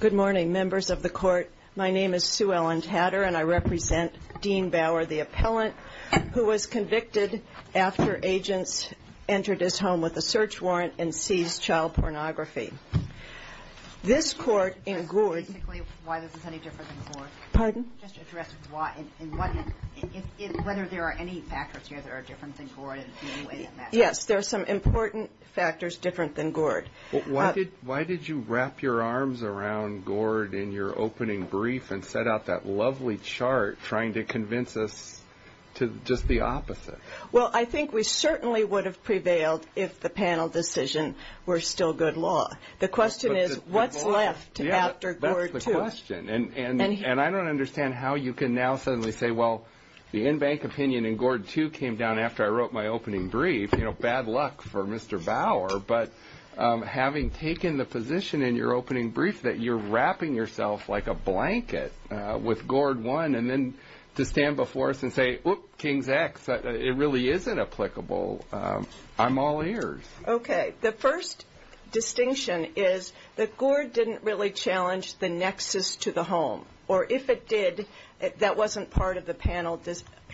Good morning, members of the court. My name is Sue Ellen Tatter and I represent Dean Bower, the appellant who was convicted after agents entered his home with a search warrant and seized child pornography. This court in Gord Basically, why this is any different than Gord? Pardon? Just address why and whether there are any factors here that are different than Gord in any way that matters. Yes, there are some important factors different than Gord. Why did you wrap your arms around Gord in your opening brief and set out that lovely chart trying to convince us to just the opposite? Well, I think we certainly would have prevailed if the panel decision were still good law. The question is, what's left after Gord 2? And I don't understand how you can now suddenly say, well, the in-bank opinion in Gord 2 came down after I wrote my opening brief, you know, bad luck for Mr. Bower. But having taken the position in your opening brief that you're wrapping yourself like a blanket with Gord 1 and then to stand before us and say, oops, Kings X, it really isn't applicable. I'm all ears. Okay. The first distinction is that Gord didn't really challenge the nexus to the home. Or if it did, that wasn't part of the panel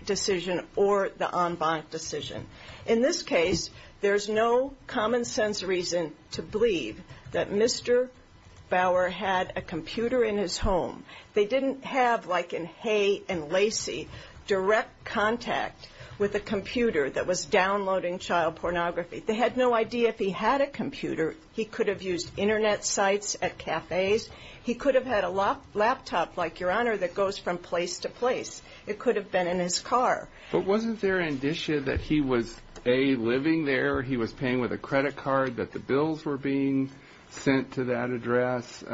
decision or the en banc decision. In this case, there's no common sense reason to believe that Mr. Bower had a computer in his home. They didn't have, like in Hay and Lacey, direct contact with a computer that was downloading child pornography. They had no idea if he had a computer. He could have used Internet sites at cafes. He could have had a laptop like your honor that goes from place to place. It could have been in his car. But wasn't there an issue that he was, A, living there, he was paying with a credit card, that the bills were being sent to that address?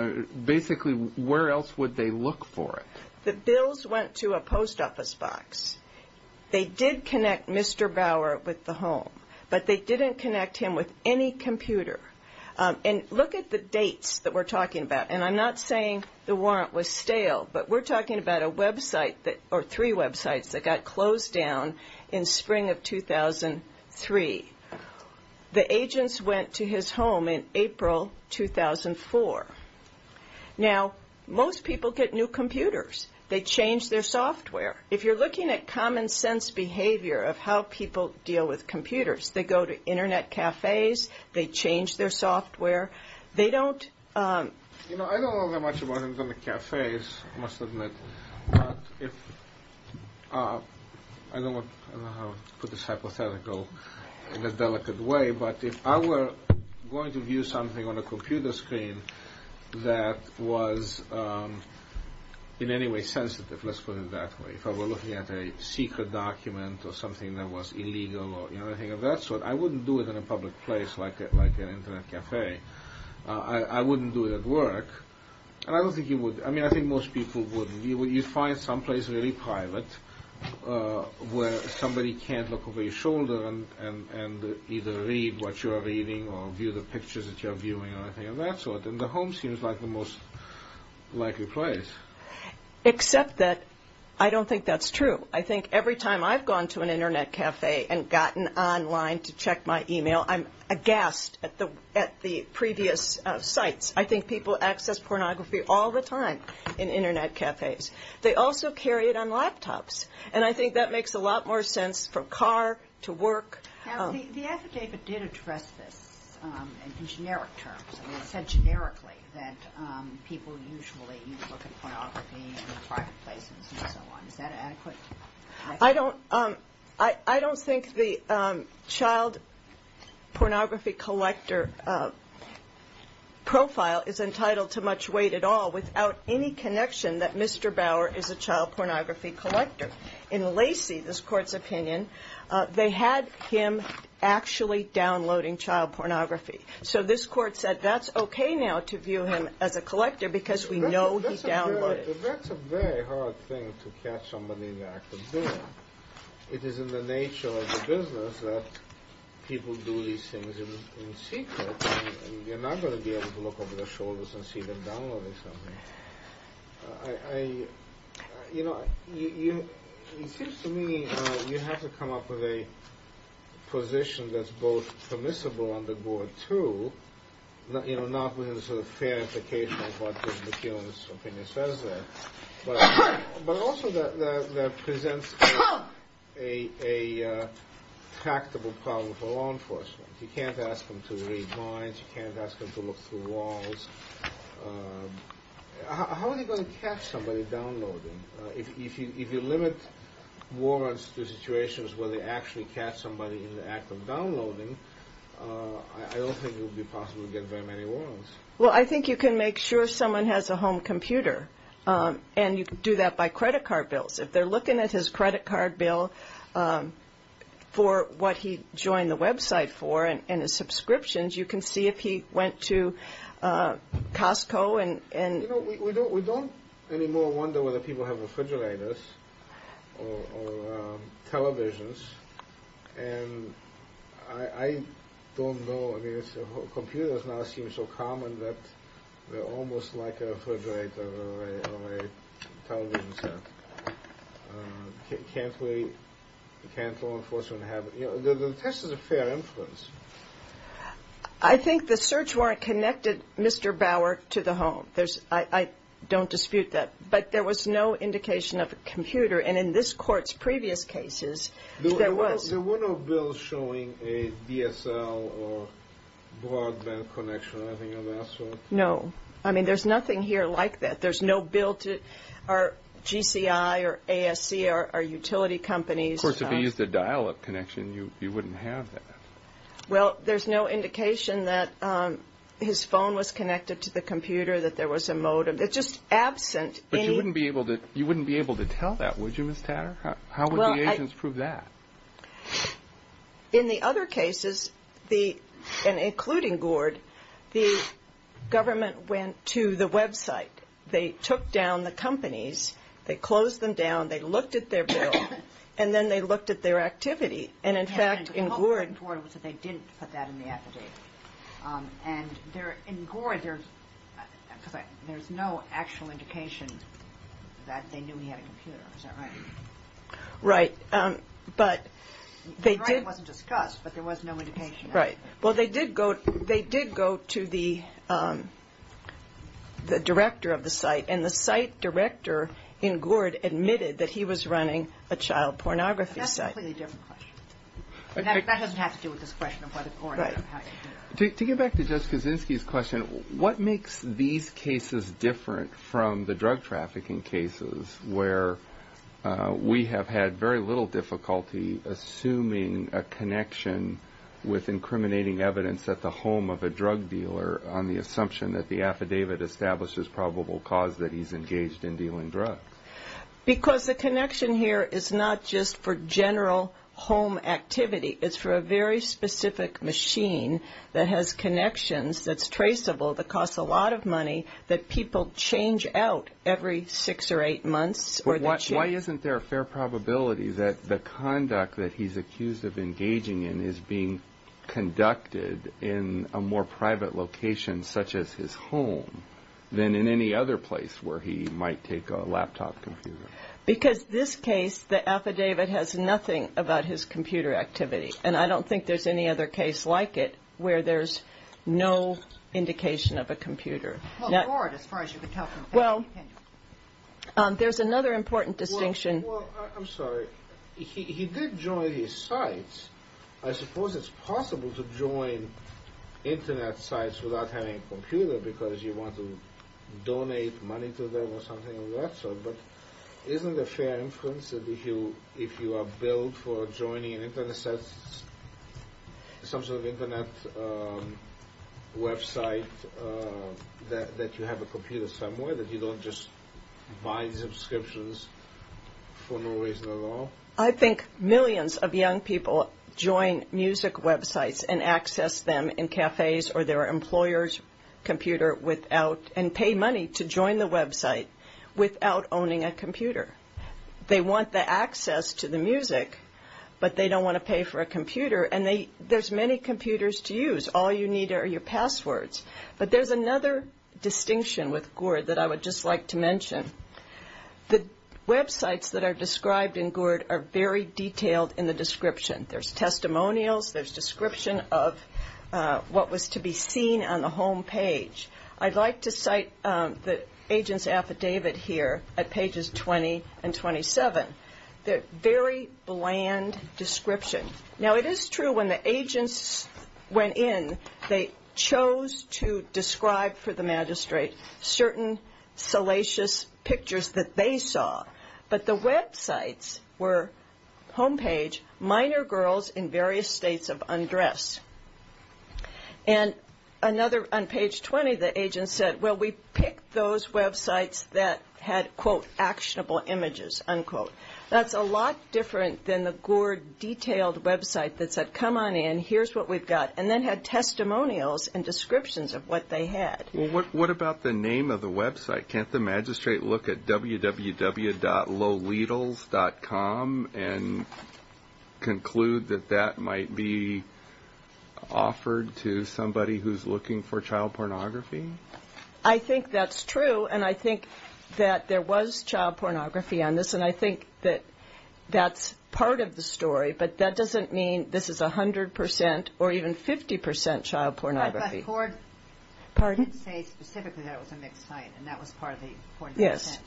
Basically, where else would they look for it? The bills went to a post office box. They did connect Mr. Bower with the home. But they didn't connect him with any computer. And look at the dates that we're talking about. And I'm not saying the warrant was stale. But we're talking about a website or three websites that got closed down in spring of 2003. The agents went to his home in April 2004. Now, most people get new computers. They change their software. If you're looking at common sense behavior of how people deal with computers, they go to Internet cafes. They change their software. They don't... You know, I don't know that much about Internet cafes, I must admit. But if... I don't want to put this hypothetical in a delicate way. But if I were going to view something on a computer screen that was in any way sensitive, let's put it that way, if I were looking at a secret document or something that was illegal or anything of that sort, I wouldn't do it in a public place like an Internet cafe. I wouldn't do it at work. And I don't think you would. I mean, I think most people wouldn't. You find someplace really private where somebody can't look over your shoulder and either read what you are reading or view the pictures that you are viewing or anything of that sort. And the home seems like the most likely place. Except that I don't think that's true. I think every time I've gone to an Internet cafe and gotten online to check my email, I'm aghast at the previous sites. I think people access pornography all the time in Internet cafes. They also carry it on laptops. And I think that makes a lot more sense from car to work. Now, the affidavit did address this in generic terms. It said generically that people usually look at pornography in private places and so on. Is that adequate? I don't think the child pornography collector profile is entitled to much weight at all without any connection that Mr. Bauer is a child pornography collector. In Lacey, this Court's opinion, they had him actually downloading child pornography. So this Court said that's okay now to view him as a collector because we know he downloaded it. But that's a very hard thing to catch somebody in the act of doing. It is in the nature of the business that people do these things in secret. You're not going to be able to look over their shoulders and see them downloading something. You know, it seems to me you have to come up with a position that's both permissible under Gordon 2, you know, not within the sort of fair implication of what McKillop's opinion says there, but also that presents a tractable problem for law enforcement. You can't ask them to read minds. You can't ask them to look through walls. How are they going to catch somebody downloading? If you limit warrants to situations where they actually catch somebody in the act of downloading, I don't think it would be possible to get very many warrants. Well, I think you can make sure someone has a home computer, and you can do that by credit card bills. If they're looking at his credit card bill for what he joined the website for and his subscriptions, you can see if he went to Costco and – You know, we don't anymore wonder whether people have refrigerators or televisions. And I don't know. I mean, computers now seem so common that they're almost like a refrigerator or a television set. Can't law enforcement have – you know, the test is a fair influence. I think the search warrant connected Mr. Bauer to the home. I don't dispute that. But there was no indication of a computer. And in this court's previous cases, there was. There were no bills showing a DSL or broadband connection or anything of that sort? No. I mean, there's nothing here like that. There's no bill to – or GCI or ASC or utility companies. Of course, if he used a dial-up connection, you wouldn't have that. Well, there's no indication that his phone was connected to the computer, that there was a modem. It's just absent. But you wouldn't be able to tell that, would you, Ms. Tatter? How would the agents prove that? In the other cases, including Gord, the government went to the website. They took down the companies. They closed them down. They looked at their bill. And then they looked at their activity. And, in fact, in Gord – The whole point in Gord was that they didn't put that in the affidavit. And in Gord, there's no actual indication that they knew he had a computer. Is that right? Right. But they did – It wasn't discussed, but there was no indication. Right. Well, they did go to the director of the site, and the site director in Gord admitted that he was running a child pornography site. That's a completely different question. That doesn't have to do with this question of whether Gord – Right. To get back to Judge Kaczynski's question, what makes these cases different from the drug trafficking cases where we have had very little difficulty assuming a connection with incriminating evidence at the home of a drug dealer on the assumption that the affidavit establishes probable cause that he's engaged in dealing drugs? Because the connection here is not just for general home activity. It's for a very specific machine that has connections, that's traceable, that costs a lot of money, that people change out every six or eight months. Why isn't there a fair probability that the conduct that he's accused of engaging in is being conducted in a more private location, such as his home, than in any other place where he might take a laptop computer? Because this case, the affidavit has nothing about his computer activity, and I don't think there's any other case like it where there's no indication of a computer. Well, Gord, as far as you can tell from facts, he can't. Well, there's another important distinction. Well, I'm sorry. He did join these sites. I suppose it's possible to join Internet sites without having a computer because you want to donate money to them or something of that sort. But isn't it a fair inference that if you are billed for joining an Internet site, some sort of Internet website that you have a computer somewhere, that you don't just buy subscriptions for no reason at all? I think millions of young people join music websites and access them in cafes or their employer's computer and pay money to join the website without owning a computer. They want the access to the music, but they don't want to pay for a computer, and there's many computers to use. All you need are your passwords. But there's another distinction with Gord that I would just like to mention. The websites that are described in Gord are very detailed in the description. There's testimonials. There's description of what was to be seen on the home page. I'd like to cite the agent's affidavit here at pages 20 and 27. They're a very bland description. Now, it is true when the agents went in, they chose to describe for the magistrate certain salacious pictures that they saw. But the websites were home page, minor girls in various states of undress. And on page 20, the agent said, well, we picked those websites that had, quote, actionable images, unquote. That's a lot different than the Gord detailed website that said, come on in, here's what we've got, and then had testimonials and descriptions of what they had. Well, what about the name of the website? Can't the magistrate look at www.loletals.com and conclude that that might be offered to somebody who's looking for child pornography? I think that's true, and I think that there was child pornography on this, and I think that that's part of the story. But that doesn't mean this is 100% or even 50% child pornography. But Gord did say specifically that it was a mixed site, and that was part of the 40%. Yes.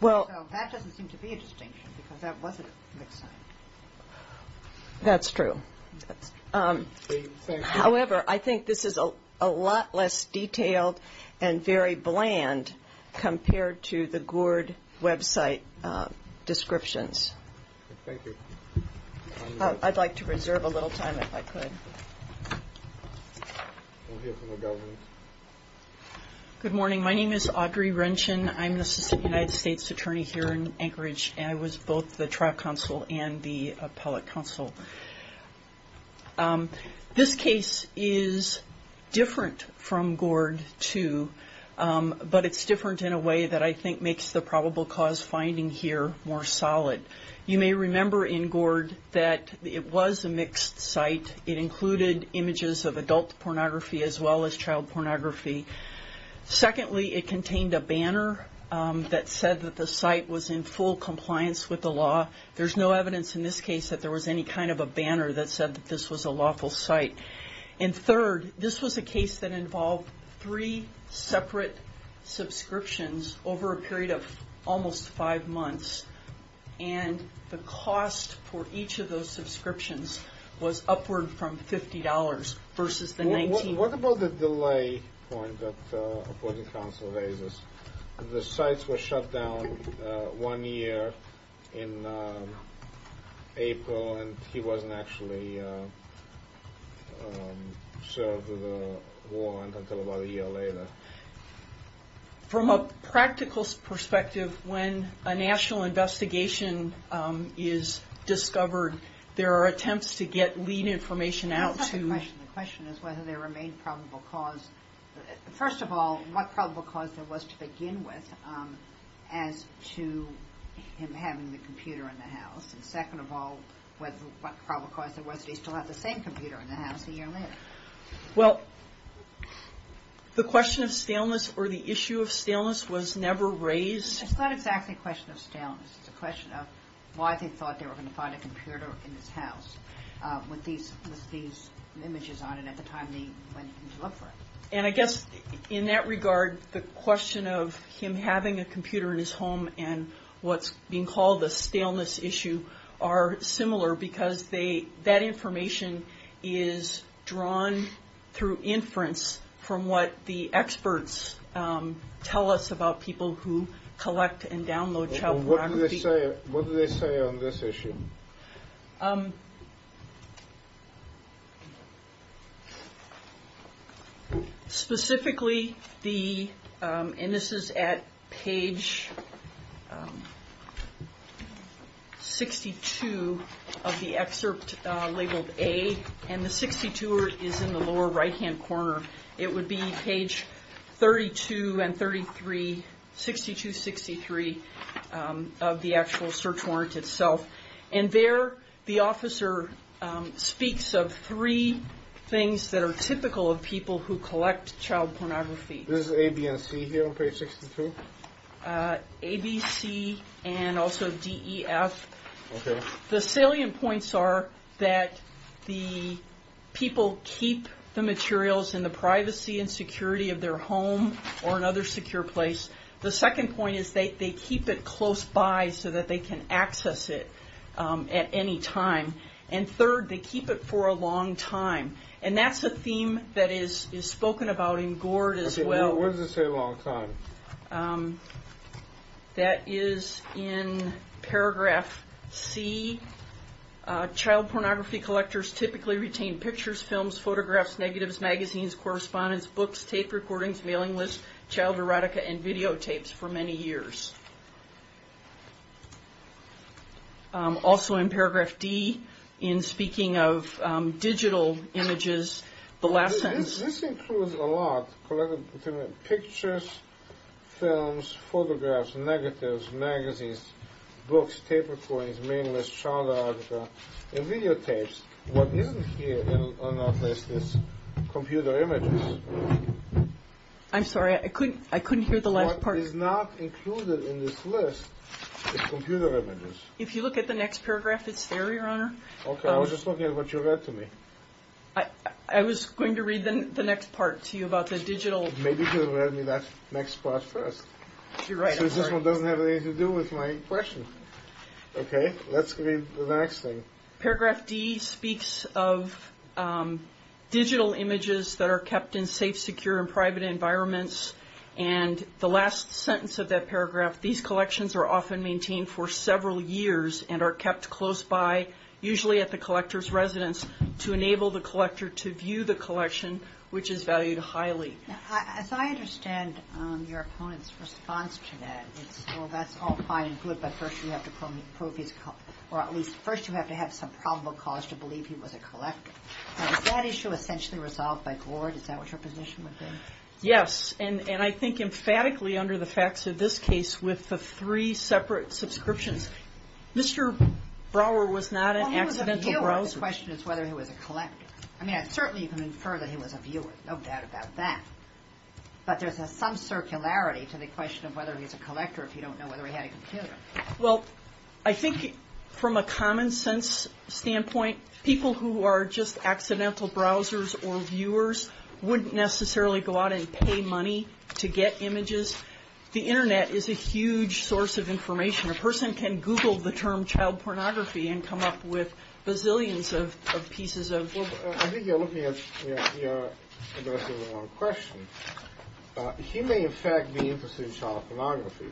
So that doesn't seem to be a distinction, because that was a mixed site. That's true. However, I think this is a lot less detailed and very bland compared to the Gord website descriptions. Thank you. I'd like to reserve a little time if I could. Good morning. My name is Audrey Wrenchon. I'm the Assistant United States Attorney here in Anchorage, and I was both the trial counsel and the appellate counsel. This case is different from Gord 2, but it's different in a way that I think makes the probable cause finding here more solid. You may remember in Gord that it was a mixed site. It included images of adult pornography as well as child pornography. Secondly, it contained a banner that said that the site was in full compliance with the law. There's no evidence in this case that there was any kind of a banner that said that this was a lawful site. And third, this was a case that involved three separate subscriptions over a period of almost five months, and the cost for each of those subscriptions was upward from $50 versus the $19. What about the delay point that the appellate counsel raises? The sites were shut down one year in April, and he wasn't actually served with a warrant until about a year later. From a practical perspective, when a national investigation is discovered, there are attempts to get lead information out to- The question is whether there remained probable cause. First of all, what probable cause there was to begin with as to him having the computer in the house? And second of all, what probable cause there was that he still had the same computer in the house a year later? Well, the question of staleness or the issue of staleness was never raised. It's not exactly a question of staleness. It's a question of why they thought they were going to find a computer in his house with these images on it at the time they went in to look for it. And I guess in that regard, the question of him having a computer in his home and what's being called the staleness issue are similar, because that information is drawn through inference from what the experts tell us about people who collect and download child biography. What do they say on this issue? Specifically, and this is at page 62 of the excerpt labeled A, and the 62 is in the lower right-hand corner. It would be page 32 and 33, 62-63 of the actual search warrant itself. And there, the officer speaks of three things that are typical of people who collect child pornography. This is A, B, and C here on page 62? A, B, C, and also D, E, F. The salient points are that the people keep the materials in the privacy and security of their home or another secure place. The second point is they keep it close by so that they can access it at any time. And third, they keep it for a long time. And that's a theme that is spoken about in Gord as well. What does it say long time? That is in paragraph C. Child pornography collectors typically retain pictures, films, photographs, negatives, magazines, correspondence, books, tape recordings, mailing lists, child erotica, and videotapes for many years. Also in paragraph D, in speaking of digital images, the lessons. This includes a lot. Pictures, films, photographs, negatives, magazines, books, tape recordings, mailing lists, child erotica, and videotapes. What isn't here in our list is computer images. I'm sorry. I couldn't hear the last part. What is not included in this list is computer images. If you look at the next paragraph, it's there, Your Honor. Okay. I was just looking at what you read to me. I was going to read the next part to you about the digital. Maybe you could have read me that next part first. You're right. This one doesn't have anything to do with my question. Let's read the next thing. Paragraph D speaks of digital images that are kept in safe, secure, and private environments. And the last sentence of that paragraph, these collections are often maintained for several years and are kept close by, usually at the collector's residence, to enable the collector to view the collection, which is valued highly. As I understand your opponent's response to that, it's, well, that's all fine and good, but first you have to prove his, or at least first you have to have some probable cause to believe he was a collector. Is that issue essentially resolved by court? Is that what your position would be? Yes, and I think emphatically under the facts of this case with the three separate subscriptions. Mr. Brower was not an accidental browser. Well, he was a viewer. The question is whether he was a collector. I mean, I certainly can infer that he was a viewer. No doubt about that. But there's some circularity to the question of whether he's a collector if you don't know whether he had a computer. Well, I think from a common sense standpoint, people who are just accidental browsers or viewers wouldn't necessarily go out and pay money to get images. The Internet is a huge source of information. A person can Google the term child pornography and come up with bazillions of pieces of... Well, I think you're looking at addressing the wrong question. He may, in fact, be interested in child pornography.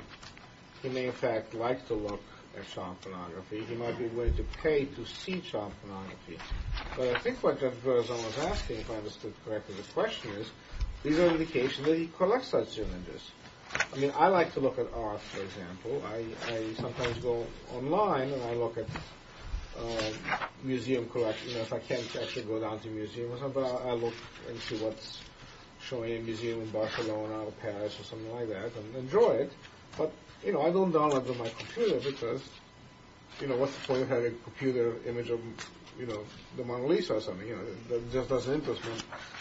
He may, in fact, like to look at child pornography. He might be willing to pay to see child pornography. But I think what Judge Verzone was asking, if I understood correctly the question, is these are indications that he collects such images. I mean, I like to look at art, for example. I sometimes go online and I look at museum collections. If I can't actually go down to a museum or something, I look and see what's showing in a museum in Barcelona or Paris or something like that and enjoy it. But, you know, I don't download to my computer because, you know, what's the point of having a computer image of, you know, the Mona Lisa or something? It just doesn't interest me.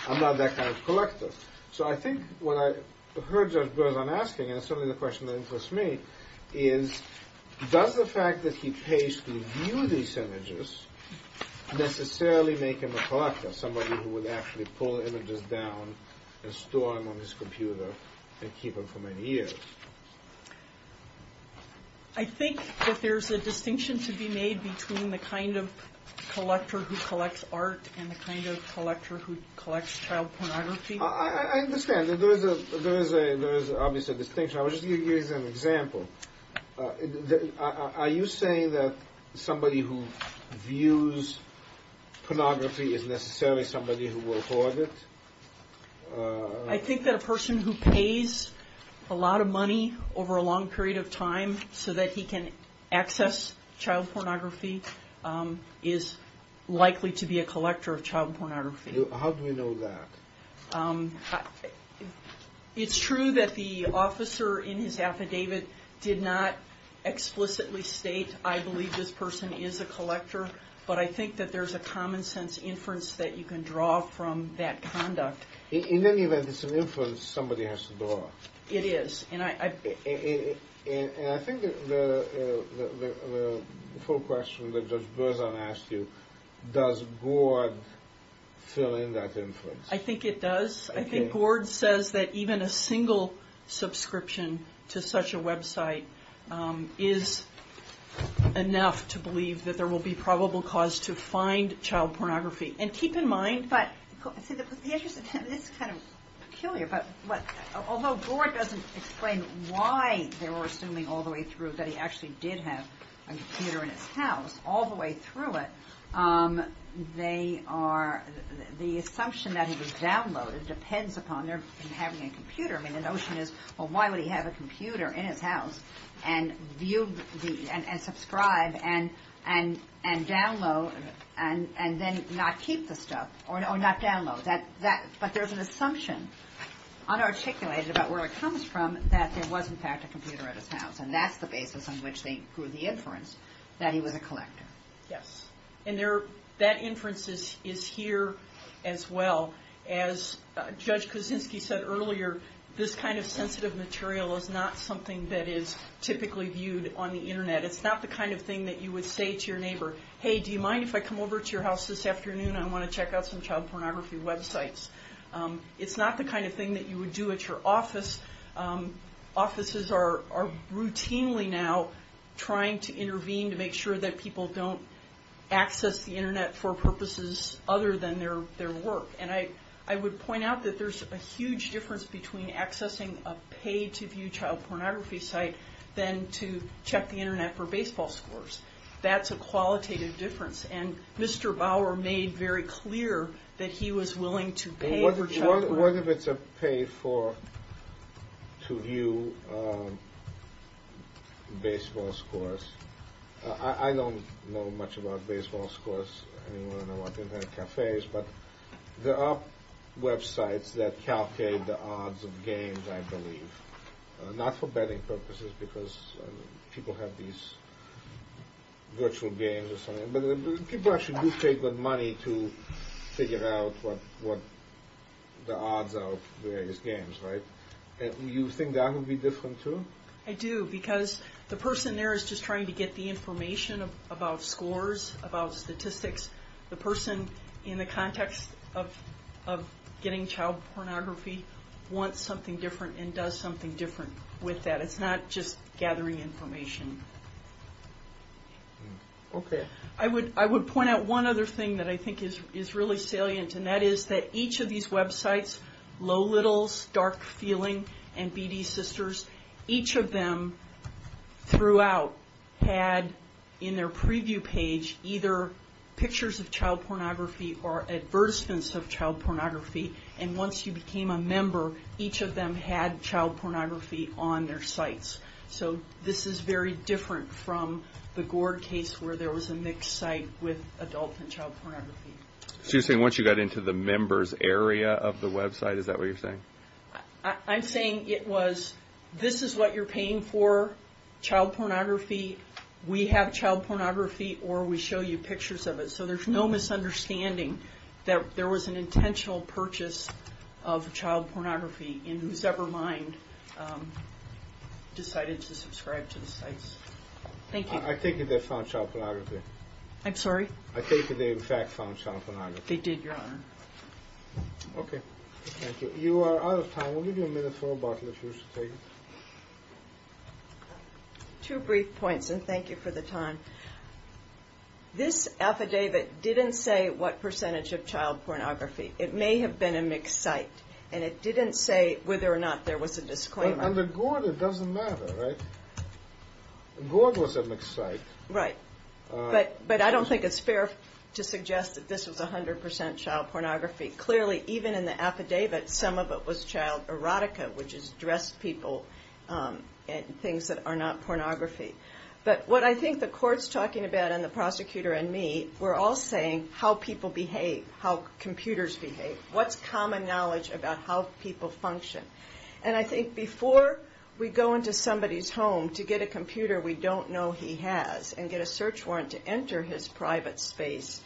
I'm not that kind of collector. So I think what I heard Judge Verzone asking, and it's certainly the question that interests me, is does the fact that he pays to view these images necessarily make him a collector, somebody who would actually pull images down and store them on his computer and keep them for many years? I think that there's a distinction to be made between the kind of collector who collects art and the kind of collector who collects child pornography. I understand. There is obviously a distinction. I was just going to use an example. Are you saying that somebody who views pornography is necessarily somebody who will hoard it? I think that a person who pays a lot of money over a long period of time so that he can access child pornography is likely to be a collector of child pornography. How do we know that? It's true that the officer in his affidavit did not explicitly state, I believe this person is a collector, but I think that there's a common sense inference that you can draw from that conduct. In any event, it's an inference somebody has to draw. It is. And I think the full question that Judge Berzon asked you, does Gord fill in that inference? I think it does. I think Gord says that even a single subscription to such a website is enough to believe that there will be probable cause to find child pornography. And keep in mind, this is kind of peculiar, but although Gord doesn't explain why they were assuming all the way through that he actually did have a computer in his house, all the way through it, the assumption that it was downloaded depends upon their having a computer. I mean, the notion is, well, why would he have a computer in his house and subscribe and download and then not keep the stuff, or not download. But there's an assumption, unarticulated about where it comes from, that there was, in fact, a computer at his house. And that's the basis on which they drew the inference that he was a collector. Yes. And that inference is here as well. As Judge Kuczynski said earlier, this kind of sensitive material is not something that is typically viewed on the Internet. It's not the kind of thing that you would say to your neighbor, hey, do you mind if I come over to your house this afternoon? I want to check out some child pornography websites. It's not the kind of thing that you would do at your office. Offices are routinely now trying to intervene to make sure that people don't access the Internet for purposes other than their work. And I would point out that there's a huge difference between accessing a paid-to-view child pornography site than to check the Internet for baseball scores. That's a qualitative difference. And Mr. Bauer made very clear that he was willing to pay for child pornography. What if it's a paid-to-view baseball scores? I don't know much about baseball scores. I don't know about Internet cafes. But there are websites that calculate the odds of games, I believe. Not for betting purposes, because people have these virtual games or something. But people actually do take the money to figure out what the odds are of various games, right? You think that would be different, too? I do, because the person there is just trying to get the information about scores, about statistics. The person in the context of getting child pornography wants something different and does something different with that. It's not just gathering information. I would point out one other thing that I think is really salient, and that is that each of these websites, Low Littles, Dark Feeling, and BD Sisters, each of them throughout had in their preview page either pictures of child pornography or advertisements of child pornography. And once you became a member, each of them had child pornography on their sites. So this is very different from the Gord case, where there was a mixed site with adult and child pornography. So you're saying once you got into the members area of the website, is that what you're saying? I'm saying it was, this is what you're paying for, child pornography. We have child pornography, or we show you pictures of it. So there's no misunderstanding that there was an intentional purchase of child pornography in whose ever mind decided to subscribe to the sites. Thank you. I take it they found child pornography. I'm sorry? I take it they, in fact, found child pornography. They did, Your Honor. Okay. Thank you. You are out of time. We'll give you a minute for a bottle if you wish to take it. Two brief points, and thank you for the time. This affidavit didn't say what percentage of child pornography. It may have been a mixed site, and it didn't say whether or not there was a disclaimer. Under Gord it doesn't matter, right? Gord was a mixed site. Right. But I don't think it's fair to suggest that this was 100% child pornography. Clearly, even in the affidavit, some of it was child erotica, which is dressed people and things that are not pornography. But what I think the court's talking about and the prosecutor and me, we're all saying how people behave, how computers behave. What's common knowledge about how people function? And I think before we go into somebody's home to get a computer we don't know he has and get a search warrant to enter his private space,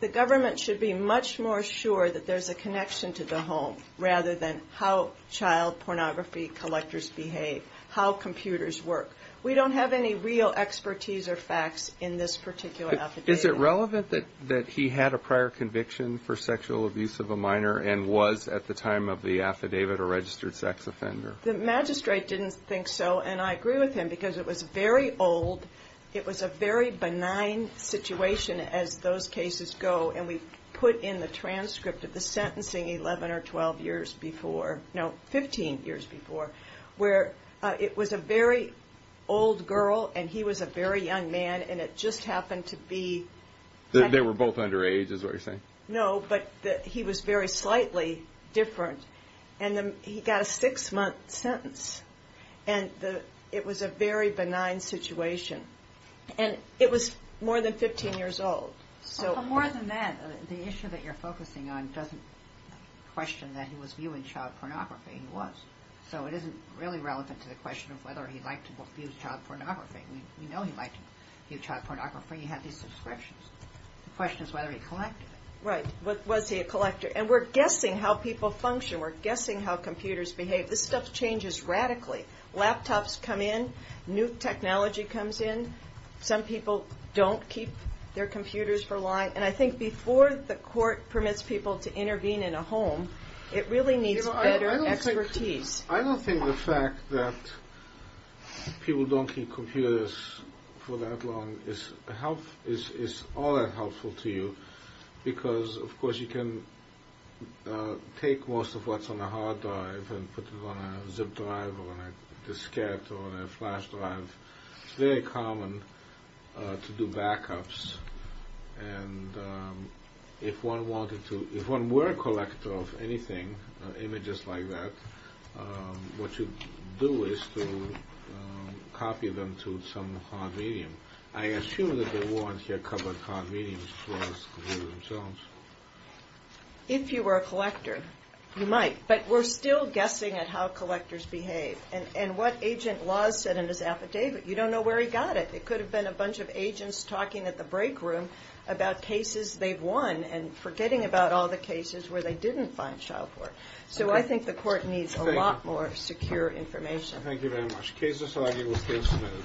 the government should be much more sure that there's a connection to the home rather than how child pornography collectors behave, how computers work. We don't have any real expertise or facts in this particular affidavit. Is it relevant that he had a prior conviction for sexual abuse of a minor and was at the time of the affidavit a registered sex offender? The magistrate didn't think so, and I agree with him, because it was very old. It was a very benign situation as those cases go, and we put in the transcript of the sentencing 11 or 12 years before. No, 15 years before, where it was a very old girl, and he was a very young man, and it just happened to be... They were both underage is what you're saying? No, but he was very slightly different, and he got a six-month sentence. It was a very benign situation, and it was more than 15 years old. But more than that, the issue that you're focusing on doesn't question that he was viewing child pornography. He was, so it isn't really relevant to the question of whether he liked to view child pornography. We know he liked to view child pornography. He had these subscriptions. The question is whether he collected it. Right. Was he a collector? And we're guessing how people function. We're guessing how computers behave. This stuff changes radically. Laptops come in. New technology comes in. Some people don't keep their computers for long. And I think before the court permits people to intervene in a home, it really needs better expertise. I don't think the fact that people don't keep computers for that long is all that helpful to you because, of course, you can take most of what's on a hard drive and put it on a zip drive or on a diskette or on a flash drive. It's very common to do backups. And if one were a collector of anything, images like that, what you do is to copy them to some hard medium. I assume that the warrants here cover hard mediums as far as computers themselves. If you were a collector, you might. But we're still guessing at how collectors behave and what agent laws said in his affidavit. You don't know where he got it. It could have been a bunch of agents talking at the break room about cases they've won and forgetting about all the cases where they didn't find child porn. So I think the court needs a lot more secure information. Thank you very much. The case is signed. It was case submitted.